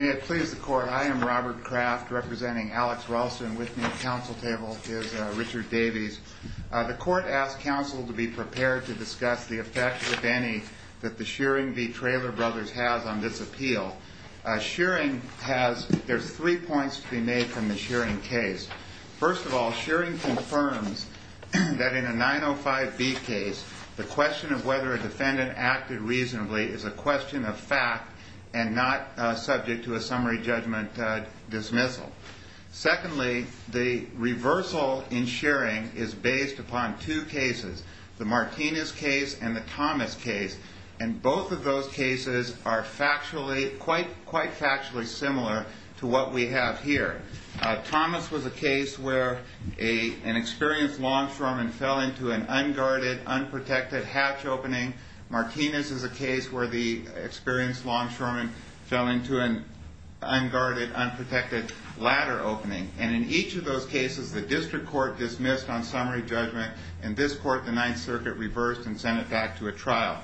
May it please the Court, I am Robert Kraft representing Alex Ralston. With me at the Council table is Richard Davies. The Court asked Council to be prepared to discuss the effects, if any, that the Shearing v. Trailer Brothers has on this appeal. Shearing has, there's three points to be made from the Shearing case. First of all, Shearing confirms that in a 905B case, the question of whether a defendant acted reasonably is a question of fact and not subject to a summary judgment dismissal. Secondly, the reversal in Shearing is based upon two cases, the Martinez case and the Thomas case, and both of those cases are quite factually similar to what we have here. Thomas was a case where an experienced longshoreman fell into an unguarded, unprotected hatch opening. Martinez is a case where the experienced longshoreman fell into an unguarded, unprotected ladder opening. And in each of those cases, the District Court dismissed on summary judgment. In this court, the Ninth Circuit reversed and sent it back to a trial.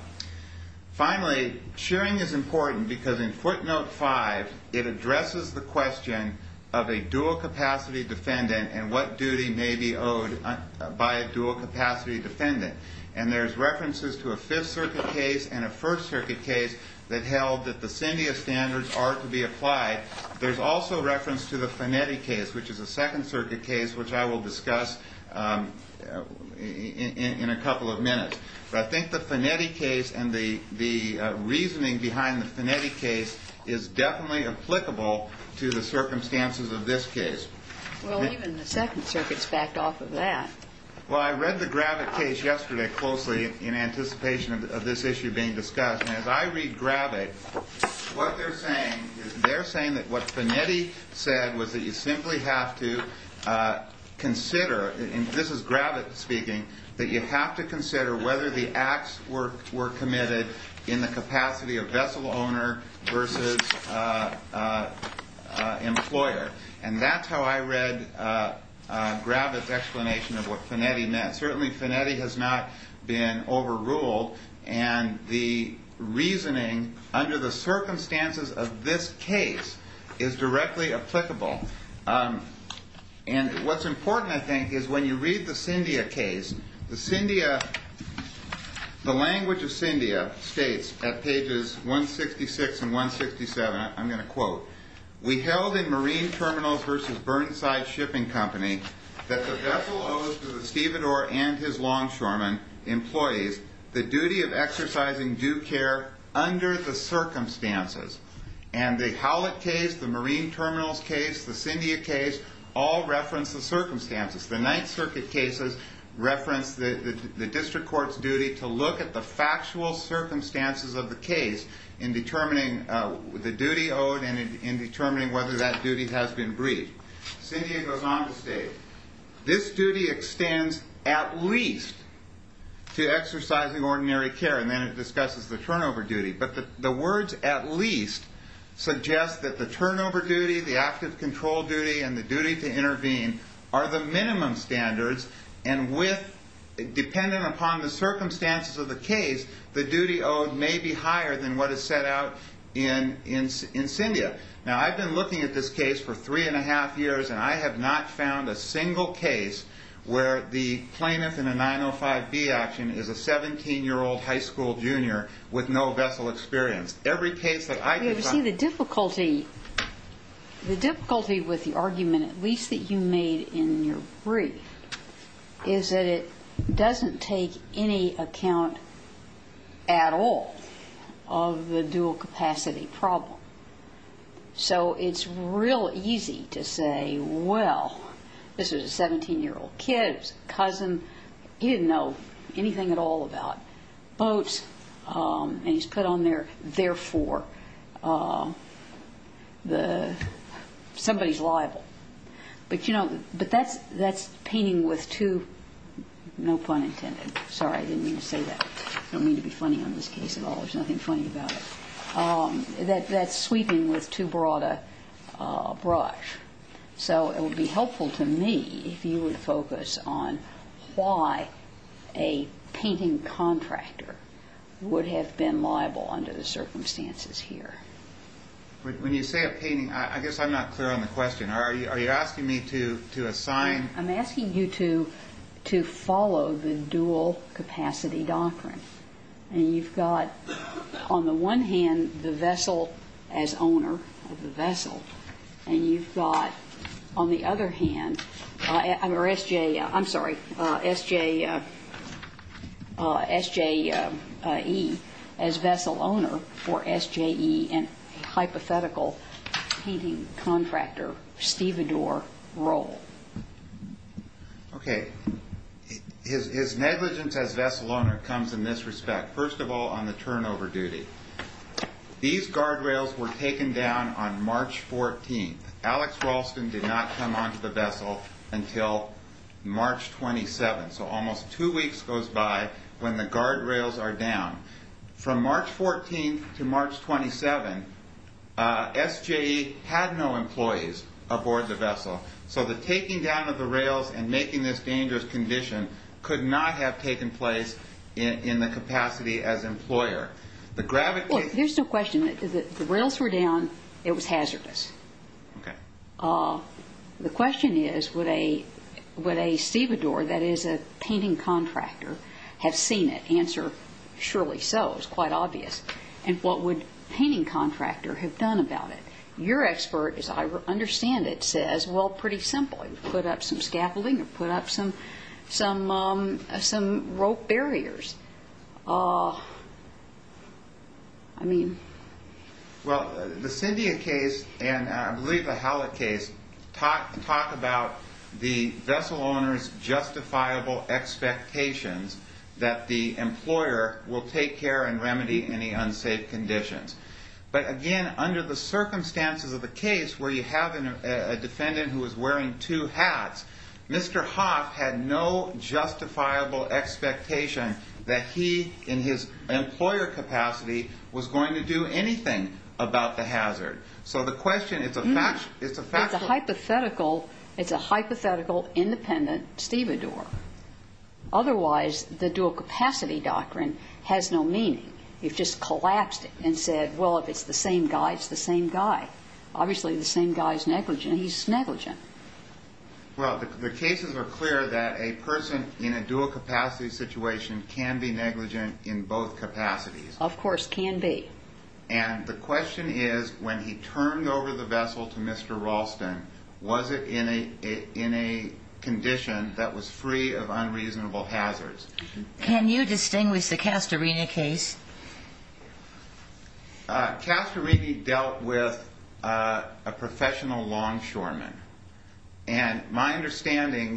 Finally, Shearing is important because in footnote 5, it addresses the question of a dual-capacity defendant and what duty may be owed by a dual-capacity defendant. And there's references to a Fifth Circuit case and a First Circuit case that held that the CINDIA standards are to be applied. There's also reference to the Finetti case, which is a Second Circuit case, which I will discuss in a couple of minutes. But I think the Finetti case and the reasoning behind the Finetti case is definitely applicable to the circumstances of this case. Well, even the Second Circuit's backed off of that. Well, I read the Gravitt case yesterday closely in anticipation of this issue being discussed. And as I read Gravitt, what they're saying is they're saying that what Finetti said was that you simply have to consider, and this is Gravitt speaking, that you have to consider whether the acts were committed in the capacity of vessel owner versus employer. And that's how I read Gravitt's explanation of what Finetti meant. Certainly, Finetti has not been overruled, and the reasoning under the circumstances of this case is directly applicable. And what's important, I think, is when you read the CINDIA case, the language of CINDIA states at pages 166 and 167, I'm going to quote, we held in Marine Terminals versus Burnside Shipping Company that the vessel owes to the stevedore and his longshoremen employees the duty of exercising due care under the circumstances. And the Howlett case, the Marine Terminals case, the CINDIA case all reference the circumstances. The Ninth Circuit cases reference the district court's duty to look at the factual circumstances of the case in determining the duty owed and in determining whether that duty has been breached. CINDIA goes on to state, this duty extends at least to exercising ordinary care, and then it discusses the turnover duty. But the words at least suggest that the turnover duty, the active control duty, and the duty to intervene are the minimum standards, and dependent upon the circumstances of the case, the duty owed may be higher than what is set out in CINDIA. Now, I've been looking at this case for three and a half years, and I have not found a single case where the plaintiff in a 905B action is a 17-year-old high school junior with no vessel experience. Every case that I could find... You see, the difficulty with the argument, at least that you made in your brief, is that it doesn't take any account at all of the dual capacity problem. So it's real easy to say, well, this was a 17-year-old kid, it was a cousin, he didn't know anything at all about boats, and he's put on there, therefore, somebody's liable. But that's painting with two... no pun intended. Sorry, I didn't mean to say that. I don't mean to be funny on this case at all. There's nothing funny about it. That's sweeping with too broad a brush. So it would be helpful to me if you would focus on why a painting contractor would have been liable under the circumstances here. When you say a painting, I guess I'm not clear on the question. Are you asking me to assign... I'm asking you to follow the dual capacity doctrine. And you've got, on the one hand, the vessel as owner of the vessel, and you've got, on the other hand, S.J.E. as vessel owner for S.J.E., and a hypothetical painting contractor, Stevedore, role. Okay. His negligence as vessel owner comes in this respect. First of all, on the turnover duty. These guardrails were taken down on March 14th. Alex Ralston did not come onto the vessel until March 27th. So almost two weeks goes by when the guardrails are down. From March 14th to March 27th, S.J.E. had no employees aboard the vessel. So the taking down of the rails and making this dangerous condition could not have taken place in the capacity as employer. The gravity... Well, here's the question. The rails were down. It was hazardous. Okay. The question is, would a Stevedore, that is a painting contractor, have seen it? Answer, surely so. It's quite obvious. And what would a painting contractor have done about it? Your expert, as I understand it, says, well, pretty simple. Put up some scaffolding or put up some rope barriers. I mean... Well, the Cyndia case and I believe the Hallett case talk about the vessel owner's justifiable expectations that the employer will take care and remedy any unsafe conditions. But, again, under the circumstances of the case where you have a defendant who is wearing two hats, Mr. Hoff had no justifiable expectation that he, in his employer capacity, was going to do anything about the hazard. So the question is... It's a hypothetical independent Stevedore. Otherwise, the dual capacity doctrine has no meaning. You've just collapsed it and said, well, if it's the same guy, it's the same guy. Obviously, the same guy is negligent. He's negligent. Well, the cases are clear that a person in a dual capacity situation can be negligent in both capacities. Of course, can be. And the question is, when he turned over the vessel to Mr. Ralston, was it in a condition that was free of unreasonable hazards? Can you distinguish the Castorina case? Castorina dealt with a professional longshoreman. And my understanding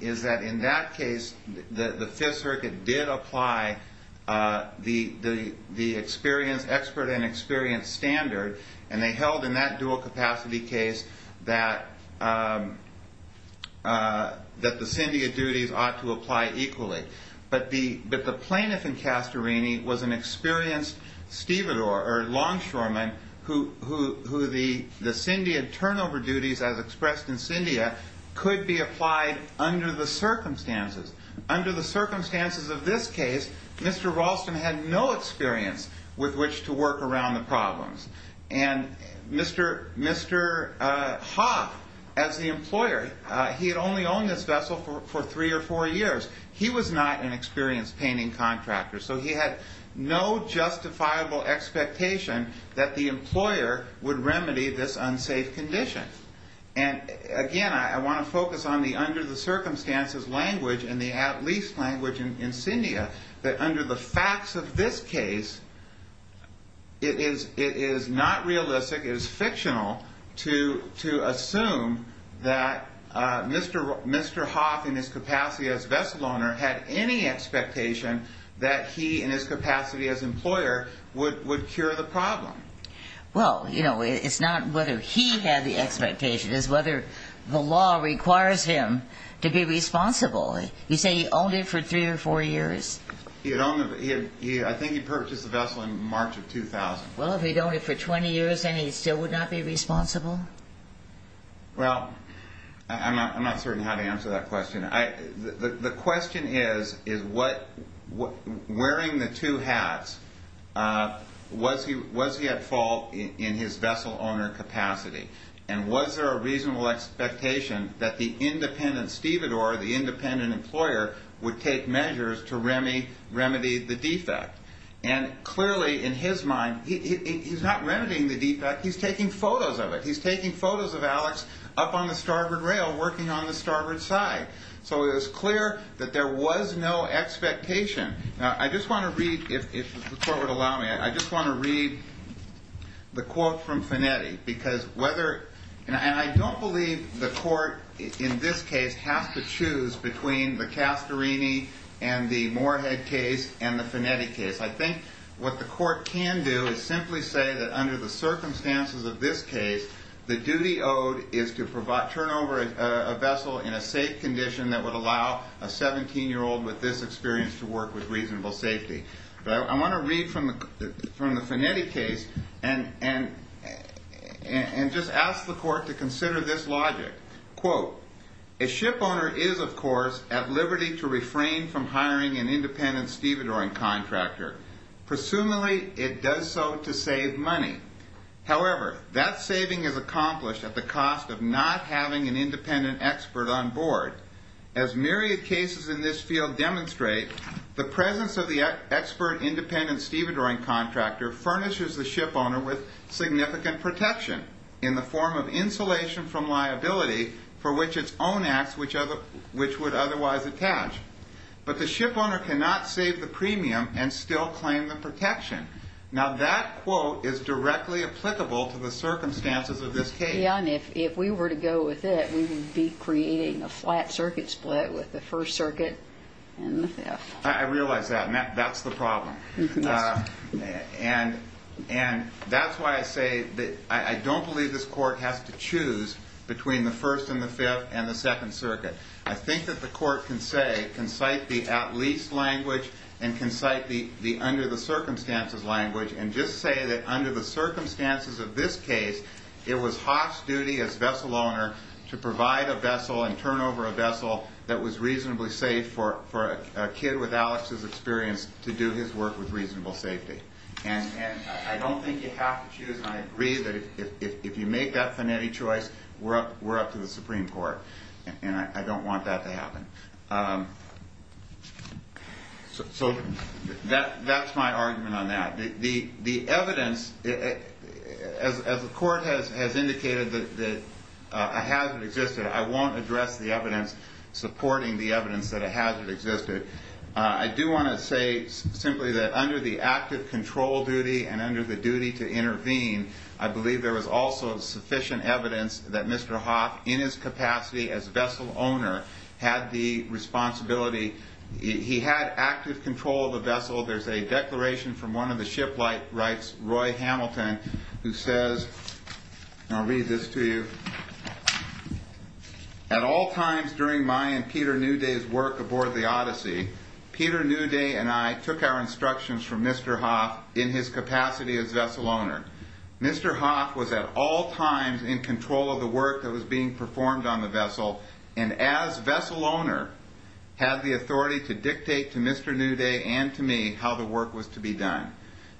is that in that case, the Fifth Circuit did apply the expert and experienced standard, and they held in that dual capacity case that the syndia duties ought to apply equally. But the plaintiff in Castorina was an experienced longshoreman who the syndia turnover duties, as expressed in syndia, could be applied under the circumstances. Under the circumstances of this case, Mr. Ralston had no experience with which to work around the problems. And Mr. Hoff, as the employer, he had only owned this vessel for three or four years. He was not an experienced painting contractor. So he had no justifiable expectation that the employer would remedy this unsafe condition. And, again, I want to focus on the under the circumstances language and the at least language in syndia, that under the facts of this case, it is not realistic, it is fictional, to assume that Mr. Hoff in his capacity as vessel owner had any expectation that he in his capacity as employer would cure the problem. Well, you know, it's not whether he had the expectation. It's whether the law requires him to be responsible. You say he owned it for three or four years. I think he purchased the vessel in March of 2000. Well, if he'd owned it for 20 years, then he still would not be responsible? Well, I'm not certain how to answer that question. The question is, wearing the two hats, was he at fault in his vessel owner capacity? And was there a reasonable expectation that the independent stevedore, the independent employer, would take measures to remedy the defect? And clearly, in his mind, he's not remedying the defect, he's taking photos of it. So it was clear that there was no expectation. Now, I just want to read, if the court would allow me, I just want to read the quote from Finetti. And I don't believe the court in this case has to choose between the Castorini and the Moorhead case and the Finetti case. I think what the court can do is simply say that under the circumstances of this case, the duty owed is to turn over a vessel in a safe condition that would allow a 17-year-old with this experience to work with reasonable safety. But I want to read from the Finetti case and just ask the court to consider this logic. Quote, a ship owner is, of course, at liberty to refrain from hiring an independent stevedoring contractor. Presumably, it does so to save money. However, that saving is accomplished at the cost of not having an independent expert on board. As myriad cases in this field demonstrate, the presence of the expert independent stevedoring contractor furnishes the ship owner with significant protection in the form of insulation from liability for which its own acts which would otherwise attach. But the ship owner cannot save the premium and still claim the protection. Now, that quote is directly applicable to the circumstances of this case. Yeah, and if we were to go with it, we would be creating a flat circuit split with the first circuit and the fifth. I realize that, and that's the problem. And that's why I say that I don't believe this court has to choose between the first and the fifth and the second circuit. I think that the court can say, can cite the at-least language and can cite the under-the-circumstances language and just say that under the circumstances of this case, it was Hoff's duty as vessel owner to provide a vessel and turn over a vessel that was reasonably safe for a kid with Alex's experience to do his work with reasonable safety. And I don't think you have to choose. And I agree that if you make that finetti choice, we're up to the Supreme Court, and I don't want that to happen. So that's my argument on that. The evidence, as the court has indicated, that a hazard existed, I won't address the evidence supporting the evidence that a hazard existed. I do want to say simply that under the active control duty and under the duty to intervene, I believe there was also sufficient evidence that Mr. Hoff, in his capacity as vessel owner, had the responsibility. There's a declaration from one of the shipwrights, Roy Hamilton, who says, and I'll read this to you. At all times during my and Peter Newday's work aboard the Odyssey, Peter Newday and I took our instructions from Mr. Hoff in his capacity as vessel owner. Mr. Hoff was at all times in control of the work that was being performed on the vessel, and as vessel owner, had the authority to dictate to Mr. Newday and to me how the work was to be done.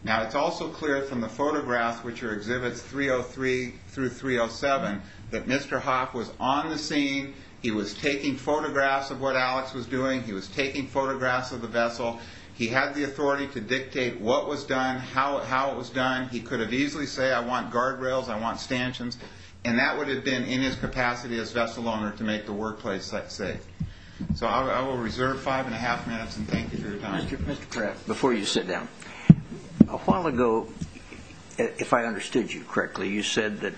Now, it's also clear from the photographs, which are exhibits 303 through 307, that Mr. Hoff was on the scene. He was taking photographs of what Alex was doing. He was taking photographs of the vessel. He had the authority to dictate what was done, how it was done. He could have easily say, I want guardrails, I want stanchions. And that would have been, in his capacity as vessel owner, to make the workplace safe. So I will reserve five and a half minutes and thank you for your time. Mr. Kraft, before you sit down, a while ago, if I understood you correctly, you said that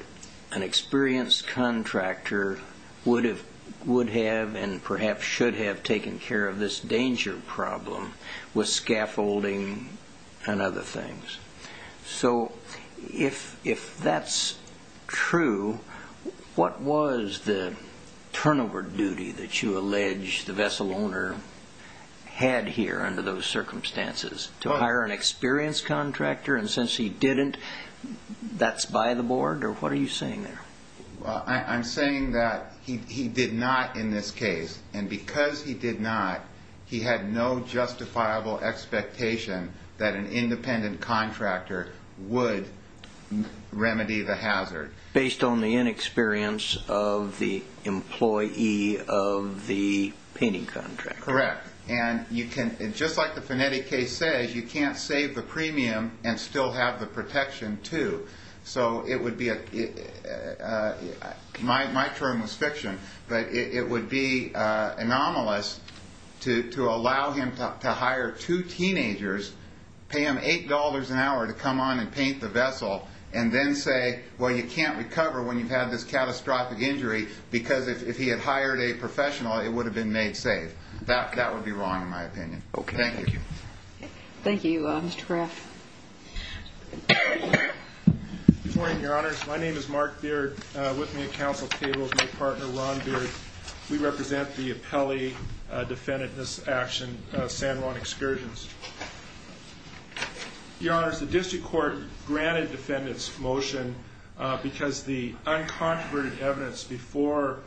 an experienced contractor would have and perhaps should have taken care of this danger problem with scaffolding and other things. So if that's true, what was the turnover duty that you allege the vessel owner had here under those circumstances? To hire an experienced contractor, and since he didn't, that's by the board? Or what are you saying there? I'm saying that he did not in this case, and because he did not, he had no justifiable expectation that an independent contractor would remedy the hazard. Based on the inexperience of the employee of the painting contractor. Correct. And just like the Finetti case says, you can't save the premium and still have the protection too. So it would be a, my term was fiction, but it would be anomalous to allow him to hire two teenagers, pay them $8 an hour to come on and paint the vessel, and then say, well, you can't recover when you've had this catastrophic injury because if he had hired a professional, it would have been made safe. That would be wrong in my opinion. Okay. Thank you. Thank you, Mr. Graff. Good morning, Your Honors. My name is Mark Beard. With me at counsel table is my partner, Ron Beard. We represent the appellee defendant in this action, San Juan Excursions. Your Honors, the district court granted defendants motion because the uncontroverted evidence before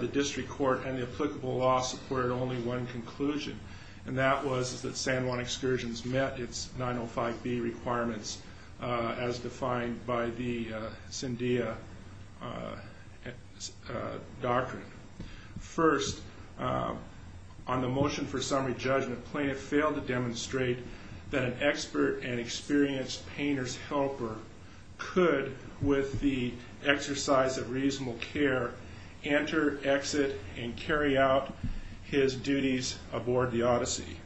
the district court and the applicable law supported only one conclusion, and that was that San Juan Excursions met its 905B requirements as defined by the Sandia Doctrine. First, on the motion for summary judgment, plaintiff failed to demonstrate that an expert and experienced painter's helper could, with the exercise of reasonable care, enter, exit, and carry out his duties aboard the Odyssey.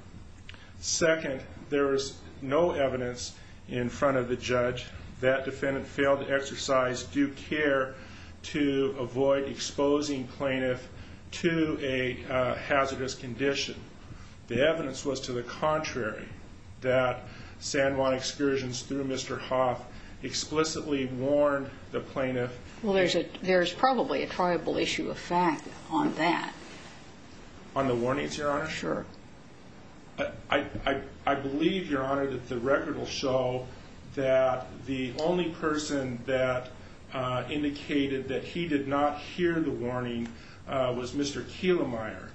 Second, there was no evidence in front of the judge that defendant failed to exercise due care to avoid exposing plaintiff to a hazardous condition. The evidence was to the contrary, that San Juan Excursions, through Mr. Hoff, explicitly warned the plaintiff. Well, there's probably a triable issue of fact on that. On the warnings, Your Honor? Sure. I believe, Your Honor, that the record will show that the only person that indicated that he did not hear the warning was Mr. Kehlemeyer.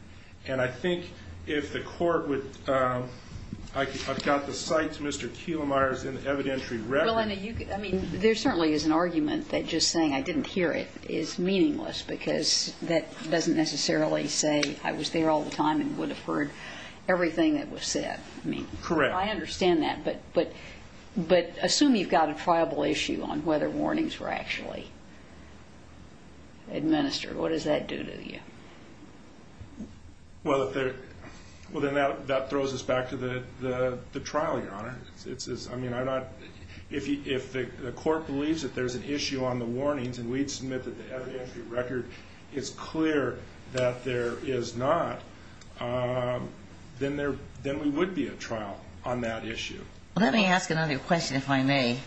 And I think if the court would ‑‑ I've got the cite to Mr. Kehlemeyer's evidentiary record. Well, I mean, there certainly is an argument that just saying I didn't hear it is meaningless because that doesn't necessarily say I was there all the time and would have heard everything that was said. Correct. I mean, I understand that, but assume you've got a triable issue on whether warnings were actually administered. What does that do to you? Well, then that throws us back to the trial, Your Honor. I mean, if the court believes that there's an issue on the warnings and we'd submit that the evidentiary record is clear that there is not, then we would be at trial on that issue. Let me ask another question, if I may.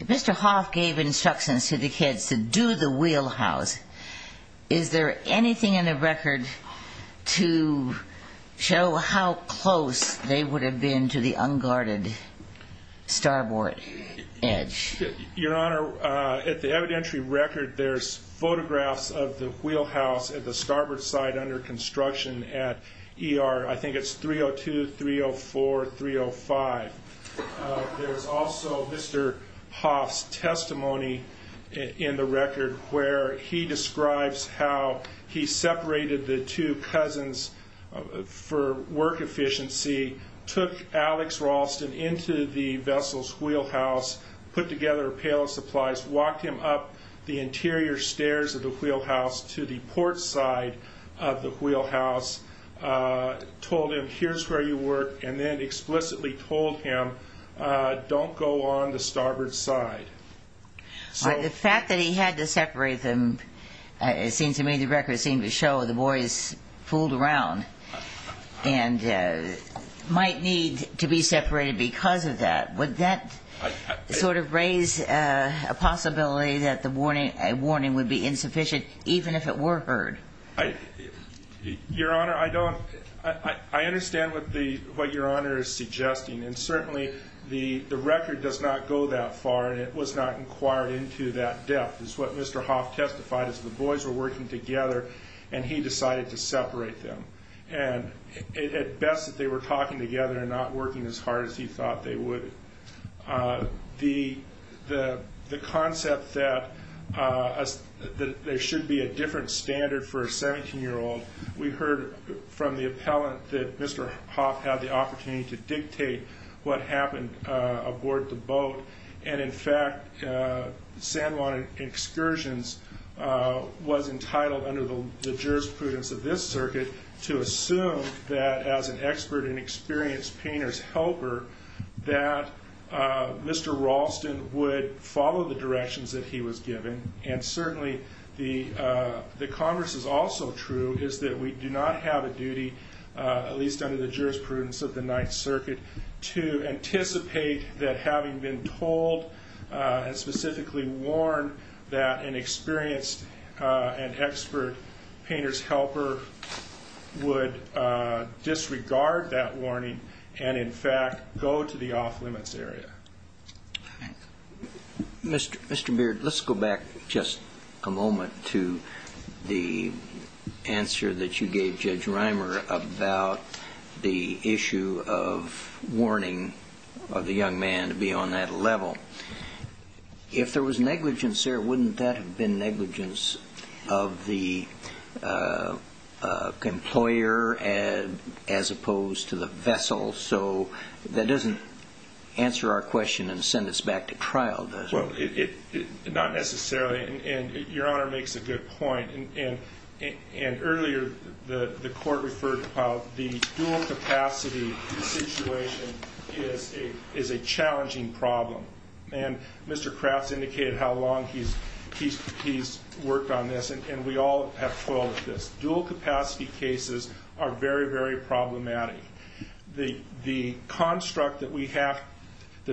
Mr. Hoff gave instructions to the kids to do the wheelhouse. Is there anything in the record to show how close they would have been to the unguarded starboard edge? Your Honor, at the evidentiary record, there's photographs of the wheelhouse at the starboard side under construction at ER. I think it's 302, 304, 305. There's also Mr. Hoff's testimony in the record where he describes how he separated the two cousins for work efficiency, took Alex Ralston into the vessel's wheelhouse, put together a pail of supplies, walked him up the interior stairs of the wheelhouse to the port side of the wheelhouse, told him, here's where you work, and then explicitly told him, don't go on the starboard side. The fact that he had to separate them, it seems to me the record seemed to show the boys fooled around and might need to be separated because of that. Would that sort of raise a possibility that a warning would be insufficient, even if it were heard? Your Honor, I understand what Your Honor is suggesting, and certainly the record does not go that far, and it was not inquired into that depth. It's what Mr. Hoff testified is the boys were working together, and he decided to separate them. And at best, they were talking together and not working as hard as he thought they would. The concept that there should be a different standard for a 17-year-old, we heard from the appellant that Mr. Hoff had the opportunity to dictate what happened aboard the boat, and in fact, San Juan Excursions was entitled under the jurisprudence of this circuit to assume that as an expert and experienced painter's helper, that Mr. Ralston would follow the directions that he was given, and certainly the Congress is also true, is that we do not have a duty, at least under the jurisprudence of the Ninth Circuit, to anticipate that having been told and specifically warned that an experienced and expert painter's helper would disregard that warning and in fact go to the off-limits area. Mr. Beard, let's go back just a moment to the answer that you gave Judge Reimer about the issue of warning of the young man to be on that level. If there was negligence there, wouldn't that have been negligence of the employer as opposed to the vessel? So that doesn't answer our question and send us back to trial, does it? Well, not necessarily, and Your Honor makes a good point, and earlier the Court referred to how the dual-capacity situation is a challenging problem, and Mr. Kraft has indicated how long he's worked on this, and we all have foiled this. Dual-capacity cases are very, very problematic. The construct that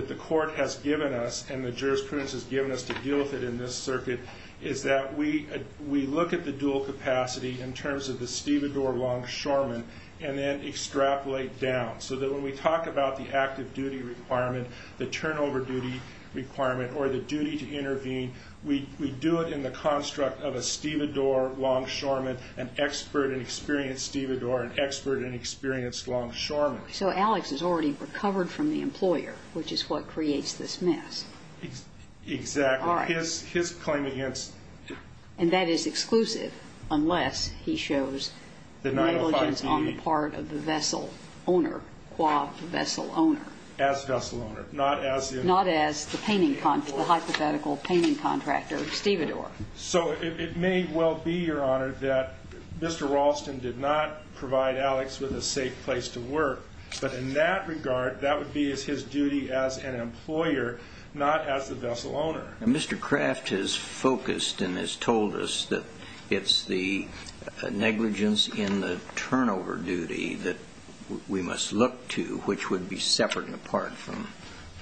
the Court has given us and the jurisprudence has given us to deal with it in this circuit is that we look at the dual-capacity in terms of the stevedore longshoreman and then extrapolate down so that when we talk about the active duty requirement, the turnover duty requirement, or the duty to intervene, we do it in the construct of a stevedore longshoreman, an expert and experienced stevedore, an expert and experienced longshoreman. So Alex has already recovered from the employer, which is what creates this mess. Exactly. All right. His claim against. And that is exclusive unless he shows negligence on the part of the vessel owner, qua vessel owner. As vessel owner, not as the. Not as the painting, the hypothetical painting contractor stevedore. So it may well be, Your Honor, that Mr. Raulston did not provide Alex with a safe place to work, but in that regard, that would be his duty as an employer, not as the vessel owner. Mr. Craft has focused and has told us that it's the negligence in the turnover duty that we must look to, which would be separate and apart from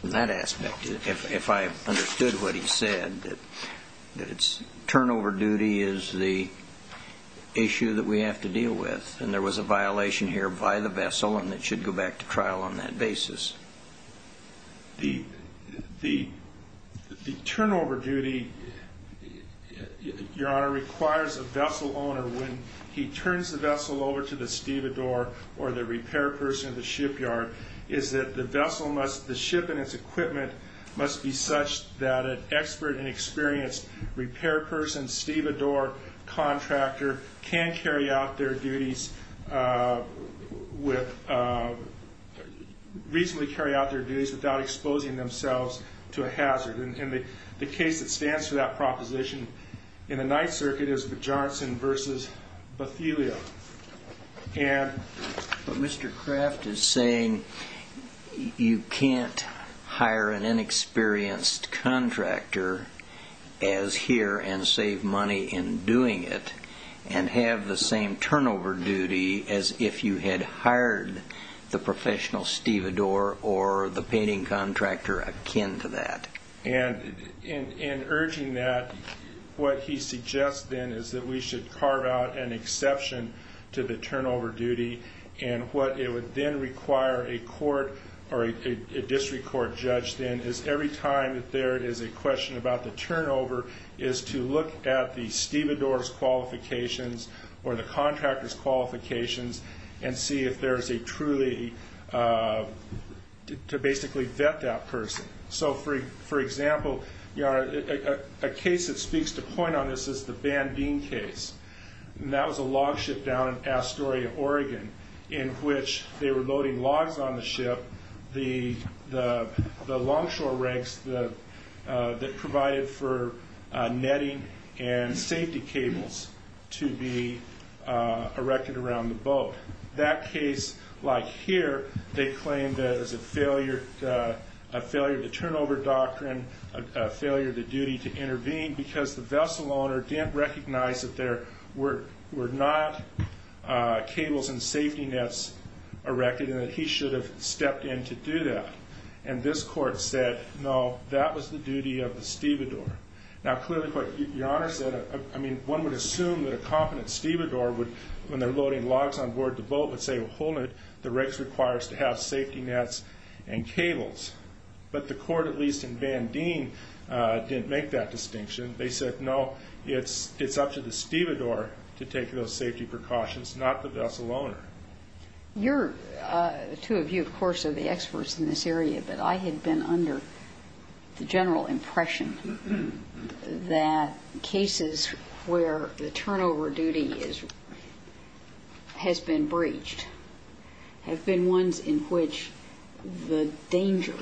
that aspect, if I understood what he said, that turnover duty is the issue that we have to deal with. And there was a violation here by the vessel, and it should go back to trial on that basis. The turnover duty, Your Honor, requires a vessel owner, when he turns the vessel over to the stevedore or the repair person at the shipyard, is that the vessel must, the ship and its equipment must be such that an expert or an inexperienced repair person stevedore contractor can carry out their duties with, reasonably carry out their duties without exposing themselves to a hazard. And the case that stands for that proposition in the Ninth Circuit is with Johnson v. Bathelia. And... But Mr. Craft is saying you can't hire an inexperienced contractor as here and save money in doing it and have the same turnover duty as if you had hired the professional stevedore or the painting contractor akin to that. And in urging that, what he suggests then is that we should carve out an exception to the turnover duty. And what it would then require a court or a district court judge then is every time that there is a question about the turnover is to look at the stevedore's qualifications or the contractor's qualifications and see if there is a truly, to basically vet that person. So for example, a case that speaks to point on this is the Bandeen case. And that was a log ship down in Astoria, Oregon, in which they were loading logs on the ship, the longshore rigs that provided for netting and safety cables to be erected around the boat. And in that case, like here, they claimed that it was a failure of the turnover doctrine, a failure of the duty to intervene because the vessel owner didn't recognize that there were not cables and safety nets erected and that he should have stepped in to do that. And this court said, no, that was the duty of the stevedore. Now clearly what Your Honor said, I mean, one would assume that a competent stevedore when they're loading logs on board the boat would say, well, hold it, the rigs requires to have safety nets and cables. But the court, at least in Bandeen, didn't make that distinction. They said, no, it's up to the stevedore to take those safety precautions, not the vessel owner. The two of you, of course, are the experts in this area, but I had been under the general impression that cases where the turnover duty has been breached have been ones in which the danger,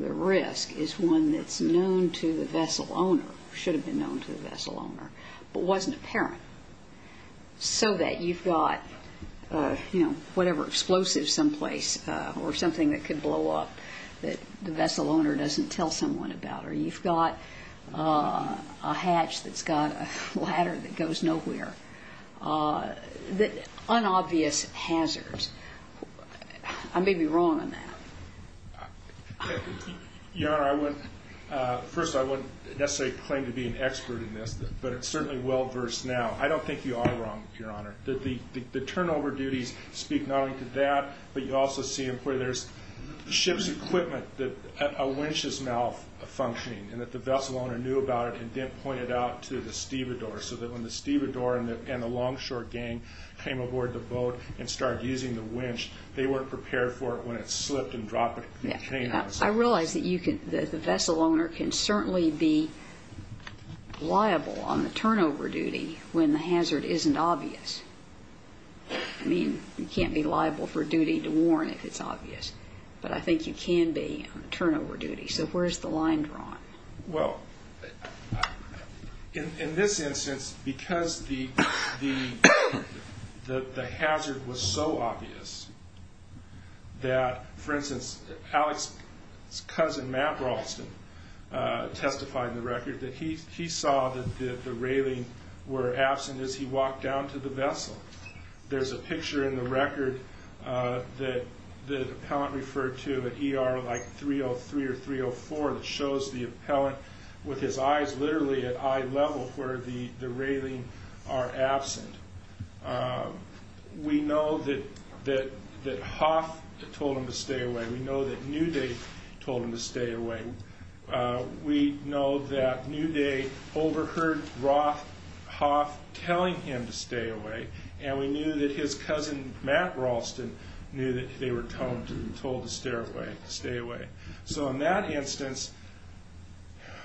the risk is one that's known to the vessel owner, should have been known to the vessel owner, but wasn't apparent, so that you've got, you know, whatever, explosives someplace or something that could blow up that the vessel owner doesn't tell someone about, or you've got a hatch that's got a ladder that goes nowhere. Unobvious hazards. I may be wrong on that. Your Honor, first of all, I wouldn't necessarily claim to be an expert in this, but it's certainly well-versed now. I don't think you are wrong, Your Honor. The turnover duties speak not only to that, but you also see them where there's ship's equipment, a winch's mouth functioning, and that the vessel owner knew about it and didn't point it out to the stevedore, so that when the stevedore and the longshore gang came aboard the boat and started using the winch, they weren't prepared for it when it slipped and dropped. I realize that the vessel owner can certainly be liable on the turnover duty when the hazard isn't obvious. I mean, you can't be liable for duty to warn if it's obvious, but I think you can be on the turnover duty. So where's the line drawn? Well, in this instance, because the hazard was so obvious that, for instance, Alex's cousin, Matt Ralston, testified in the record that he saw that the railing were absent as he walked down to the vessel. There's a picture in the record that the appellant referred to, an ER like 303 or 304 that shows the appellant with his eyes literally at eye level where the railing are absent. We know that Hoth told him to stay away. We know that Newday told him to stay away. We know that Newday overheard Hoth telling him to stay away, and we knew that his cousin, Matt Ralston, knew that they were told to stay away. So in that instance,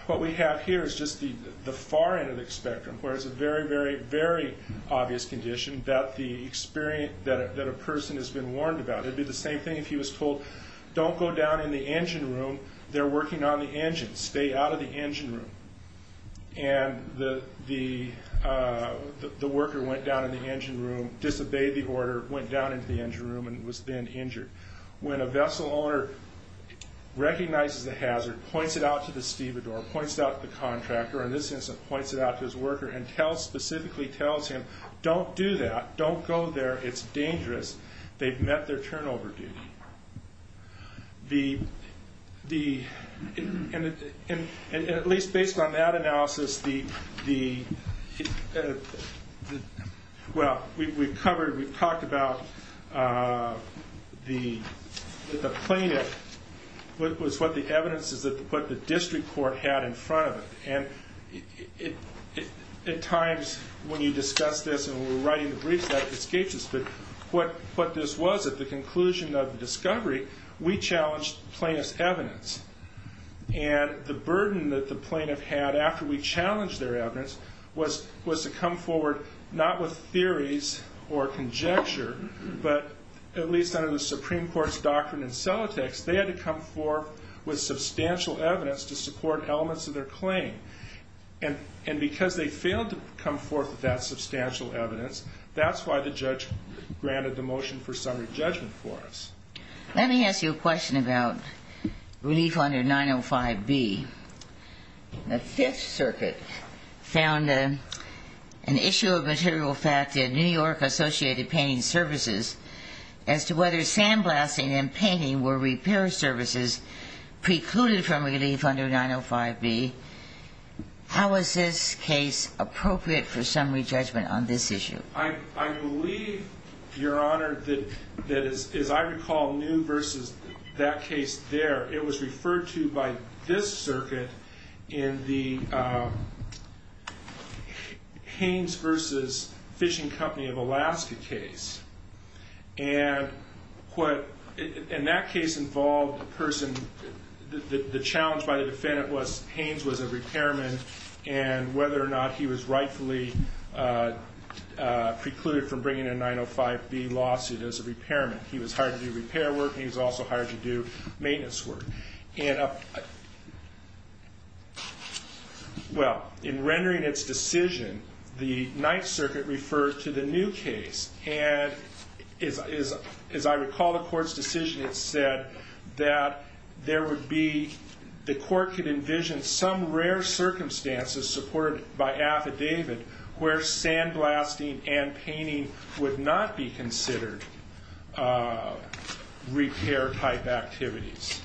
what we have here is just the far end of the spectrum, where it's a very, very, very obvious condition that a person has been warned about. It would be the same thing if he was told, don't go down in the engine room. They're working on the engine. Stay out of the engine room. And the worker went down in the engine room, disobeyed the order, went down into the engine room and was then injured. When a vessel owner recognizes the hazard, points it out to the stevedore, points it out to the contractor, in this instance points it out to his worker and specifically tells him, don't do that. Don't go there. It's dangerous. They've met their turnover duty. And at least based on that analysis, well, we've covered, we've talked about the plaintiff was what the evidence is, what the district court had in front of it. And at times when you discuss this and we're writing the briefs, that escapes us, but what this was at the conclusion of the discovery, we challenged plaintiff's evidence. And the burden that the plaintiff had after we challenged their evidence was to come forward not with theories or conjecture, but at least under the Supreme Court's doctrine in Celtics, they had to come forth with substantial evidence to support elements of their claim. And because they failed to come forth with that substantial evidence, that's why the judge granted the motion for summary judgment for us. Let me ask you a question about relief under 905B. The Fifth Circuit found an issue of material fact in New York Associated Painting Services as to whether sandblasting and painting were repair services precluded from relief under 905B. How is this case appropriate for summary judgment on this issue? I believe, Your Honor, that as I recall, New versus that case there, it was referred to by this circuit in the Hanes versus Fishing Company of Alaska case. And what – and that case involved a person – the challenge by the defendant was Hanes was a repairman, and whether or not he was rightfully precluded from bringing a 905B lawsuit as a repairman. He was hired to do repair work, and he was also hired to do maintenance work. And, well, in rendering its decision, the Ninth Circuit referred to the new case. And as I recall the court's decision, it said that there would be – the court could envision some rare circumstances supported by affidavit where sandblasting and painting would not be considered repair-type activities.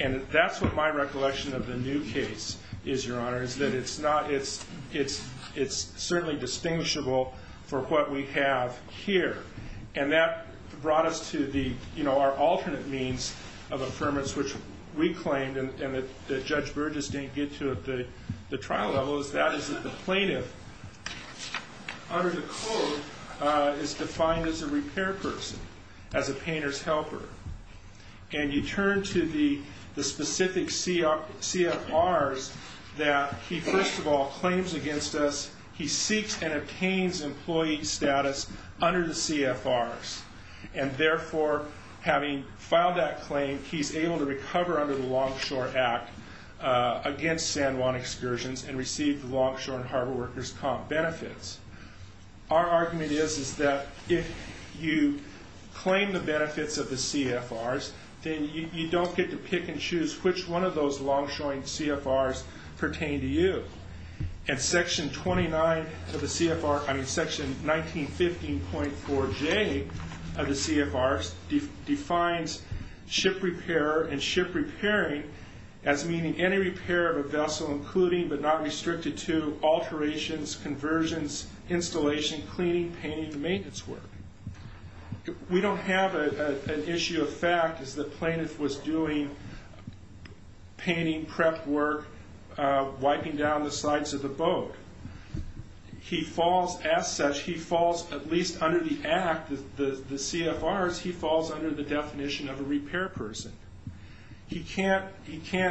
And that's what my recollection of the new case is, Your Honor, is that it's not – it's certainly distinguishable for what we have here. And that brought us to the – you know, our alternate means of affirmance, which we claimed and that Judge Burgess didn't get to at the trial level, is that is that the plaintiff under the code is defined as a repair person, as a painter's helper. And you turn to the specific CFRs that he, first of all, claims against us. He seeks and obtains employee status under the CFRs. And, therefore, having filed that claim, he's able to recover under the Longshore Act against San Juan excursions and receive the Longshore and Harbor Workers' Comp benefits. Our argument is that if you claim the benefits of the CFRs, then you don't get to pick and choose which one of those long-showing CFRs pertain to you. And Section 29 of the CFR – I mean, Section 1915.4J of the CFRs defines ship repair and ship repairing as meaning any repair of a vessel including but not restricted to alterations, conversions, installation, cleaning, painting, and maintenance work. We don't have an issue of fact as the plaintiff was doing painting, prep work, wiping down the sides of the boat. He falls, as such, he falls at least under the act, the CFRs, he falls under the definition of a repair person. He can't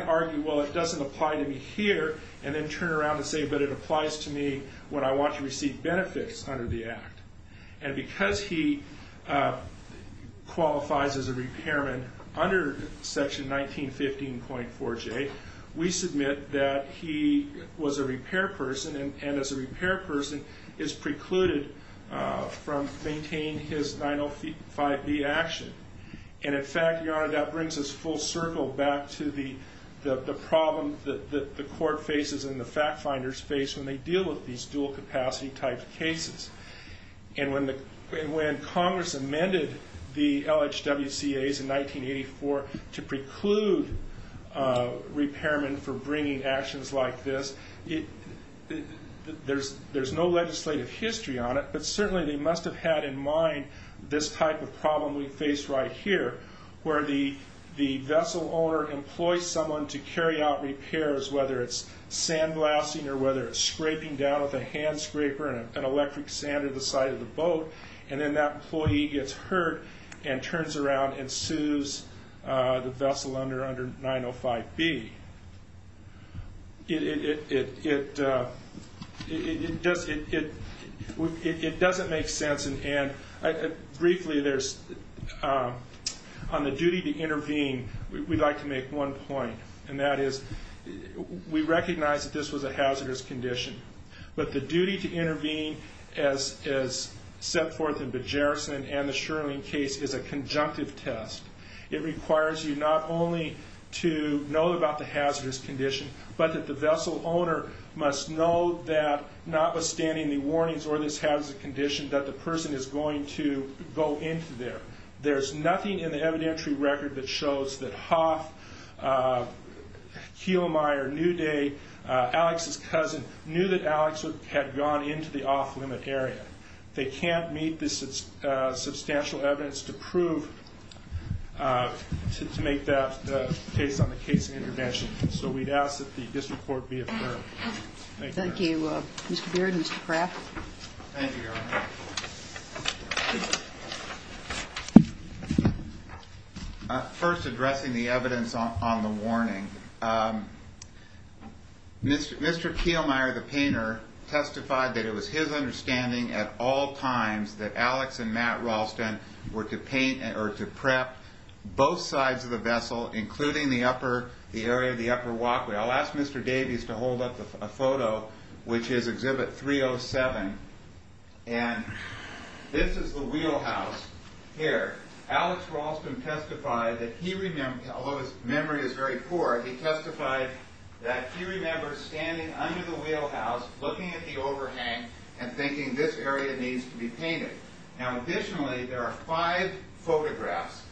argue, well, it doesn't apply to me here, and then turn around and say, but it applies to me when I want to receive benefits under the act. And because he qualifies as a repairman under Section 1915.4J, we submit that he was a repair person and, as a repair person, is precluded from maintaining his 905B action. And, in fact, Your Honor, that brings us full circle back to the problem that the court faces and the fact-finders face when they deal with these dual-capacity type cases. And when Congress amended the LHWCAs in 1984 to preclude repairmen from bringing actions like this, there's no legislative history on it, but certainly they must have had in mind this type of problem we face right here, where the vessel owner employs someone to carry out repairs, whether it's sandblasting or whether it's scraping down with a hand scraper and electric sand at the side of the boat, and then that employee gets hurt and turns around and sues the vessel under 905B. It doesn't make sense, and briefly, on the duty to intervene, we'd like to make one point, and that is we recognize that this was a hazardous condition, but the duty to intervene, as set forth in Bejerrison and the Sherling case, is a conjunctive test. It requires you not only to know about the hazardous condition, but that the vessel owner must know that, notwithstanding the warnings or this hazardous condition, that the person is going to go into there. There's nothing in the evidentiary record that shows that Hoff, Kielmeier, Newday, Alex's cousin, knew that Alex had gone into the off-limit area. They can't meet the substantial evidence to prove, to make the case on the case of intervention, so we'd ask that the district court be affirmed. Thank you. Thank you. Thank you, Your Honor. First, addressing the evidence on the warning. Mr. Kielmeier, the painter, testified that it was his understanding at all times that Alex and Matt Ralston were to paint or to prep both sides of the vessel, including the area of the upper walkway. I'll ask Mr. Davies to hold up a photo, which is Exhibit 307. And this is the wheelhouse here. Alex Ralston testified that he remembered, although his memory is very poor, he testified that he remembers standing under the wheelhouse, looking at the overhang and thinking, this area needs to be painted. Now, additionally, there are five photographs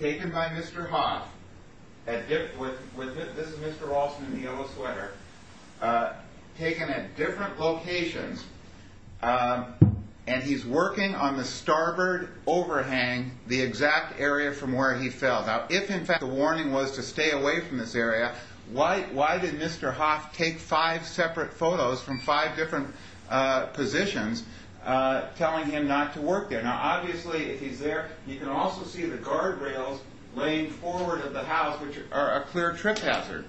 taken by Mr. Hoff. This is Mr. Ralston in the yellow sweater. Taken at different locations. And he's working on the starboard overhang, the exact area from where he fell. Now, if, in fact, the warning was to stay away from this area, why did Mr. Hoff take five separate photos from five different positions telling him not to work there? Now, obviously, if he's there, you can also see the guardrails laying forward of the house, which are a clear trip hazard.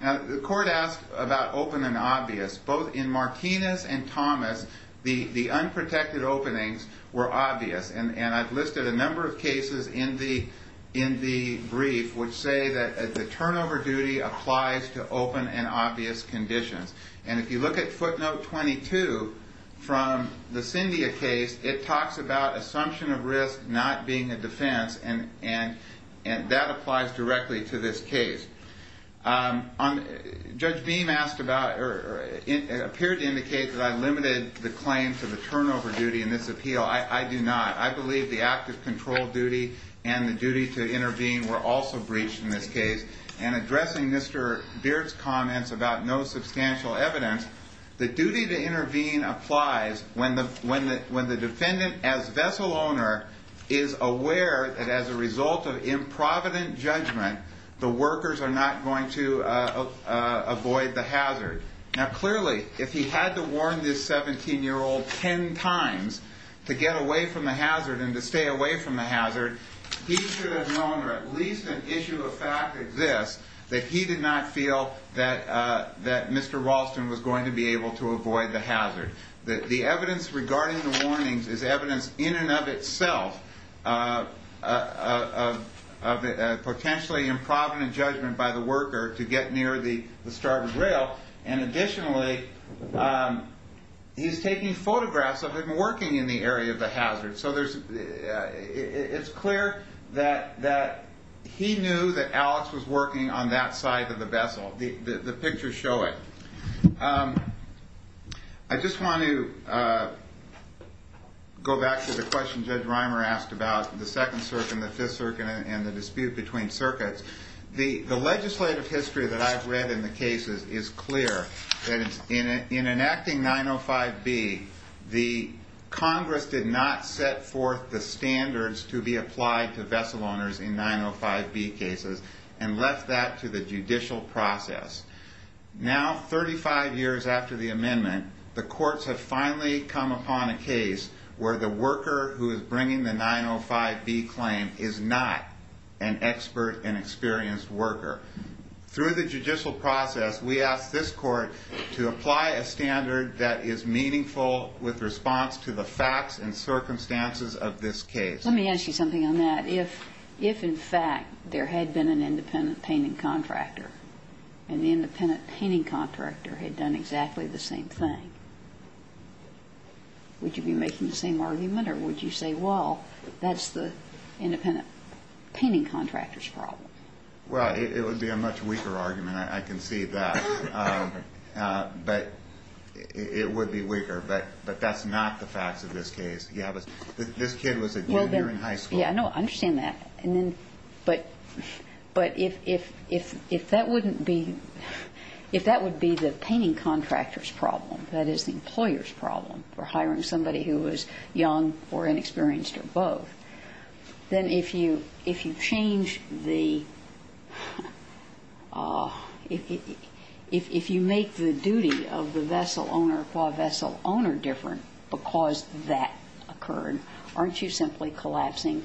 Now, the court asked about open and obvious. Both in Martinez and Thomas, the unprotected openings were obvious, and I've listed a number of cases in the brief which say that the turnover duty applies to open and obvious conditions. And if you look at footnote 22 from the Cyndia case, it talks about assumption of risk not being a defense, and that applies directly to this case. Judge Beam appeared to indicate that I limited the claim to the turnover duty in this appeal. I do not. I believe the active control duty and the duty to intervene were also breached in this case. And addressing Mr. Beard's comments about no substantial evidence, the duty to intervene applies when the defendant, as vessel owner, is aware that as a result of improvident judgment, the workers are not going to avoid the hazard. Now, clearly, if he had to warn this 17-year-old ten times to get away from the hazard and to stay away from the hazard, he should have known that at least an issue of fact exists, that he did not feel that Mr. Ralston was going to be able to avoid the hazard. The evidence regarding the warnings is evidence in and of itself of potentially improvident judgment by the worker to get near the starboard rail. And additionally, he's taking photographs of him working in the area of the hazard. So it's clear that he knew that Alex was working on that side of the vessel. The pictures show it. I just want to go back to the question Judge Reimer asked about the Second Circuit and the Fifth Circuit and the dispute between circuits. The legislative history that I've read in the cases is clear that in enacting 905B, the Congress did not set forth the standards to be applied to vessel owners in 905B cases and left that to the judicial process. Now, 35 years after the amendment, the courts have finally come upon a case where the worker who is bringing the 905B claim is not an expert and experienced worker. Through the judicial process, we ask this court to apply a standard that is meaningful with response to the facts and circumstances of this case. Let me ask you something on that. If, in fact, there had been an independent painting contractor and the independent painting contractor had done exactly the same thing, would you be making the same argument or would you say, well, that's the independent painting contractor's problem? Well, it would be a much weaker argument. I can see that. But it would be weaker. But that's not the facts of this case. Yeah, but this kid was a junior in high school. Yeah, I know. I understand that. But if that would be the painting contractor's problem, that is the employer's problem for hiring somebody who is young or inexperienced or both, then if you change the – if you make the duty of the vessel owner or qua vessel owner different because that occurred, aren't you simply collapsing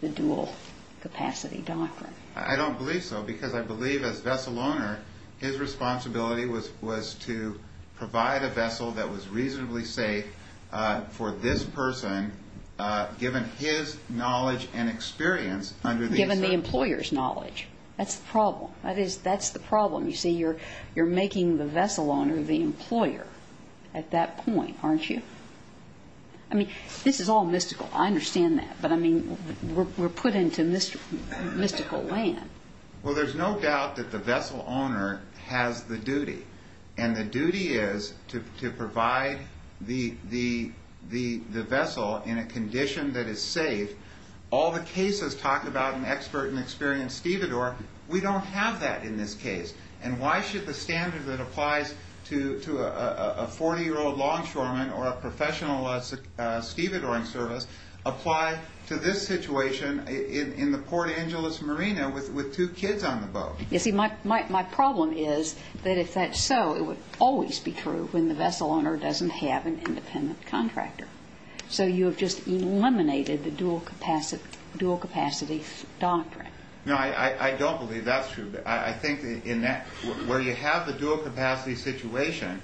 the dual capacity doctrine? I don't believe so because I believe as vessel owner, his responsibility was to provide a vessel that was reasonably safe for this person, given his knowledge and experience under these circumstances. Given the employer's knowledge. That's the problem. That's the problem. You see, you're making the vessel owner the employer at that point, aren't you? I mean, this is all mystical. I understand that. But, I mean, we're put into mystical land. Well, there's no doubt that the vessel owner has the duty. And the duty is to provide the vessel in a condition that is safe. All the cases talk about an expert and experienced stevedore. We don't have that in this case. And why should the standard that applies to a 40-year-old longshoreman or a professional stevedoring service apply to this situation in the Port Angeles Marina with two kids on the boat? You see, my problem is that if that's so, it would always be true when the vessel owner doesn't have an independent contractor. So you have just eliminated the dual capacity doctrine. No, I don't believe that's true. I think where you have the dual capacity situation,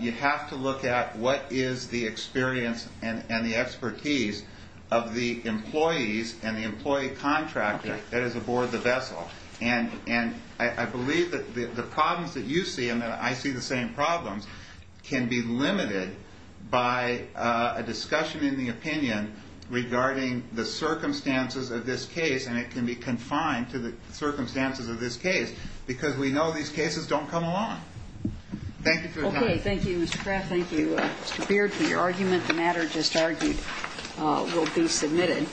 you have to look at what is the experience and the expertise of the employees and the employee contractor that is aboard the vessel. And I believe that the problems that you see and that I see the same problems can be limited by a discussion in the opinion regarding the circumstances of this case. And it can be confined to the circumstances of this case because we know these cases don't come along. Thank you for your time. Okay, thank you, Mr. Kraft. Thank you, Mr. Beard, for your argument. The matter just argued will be submitted.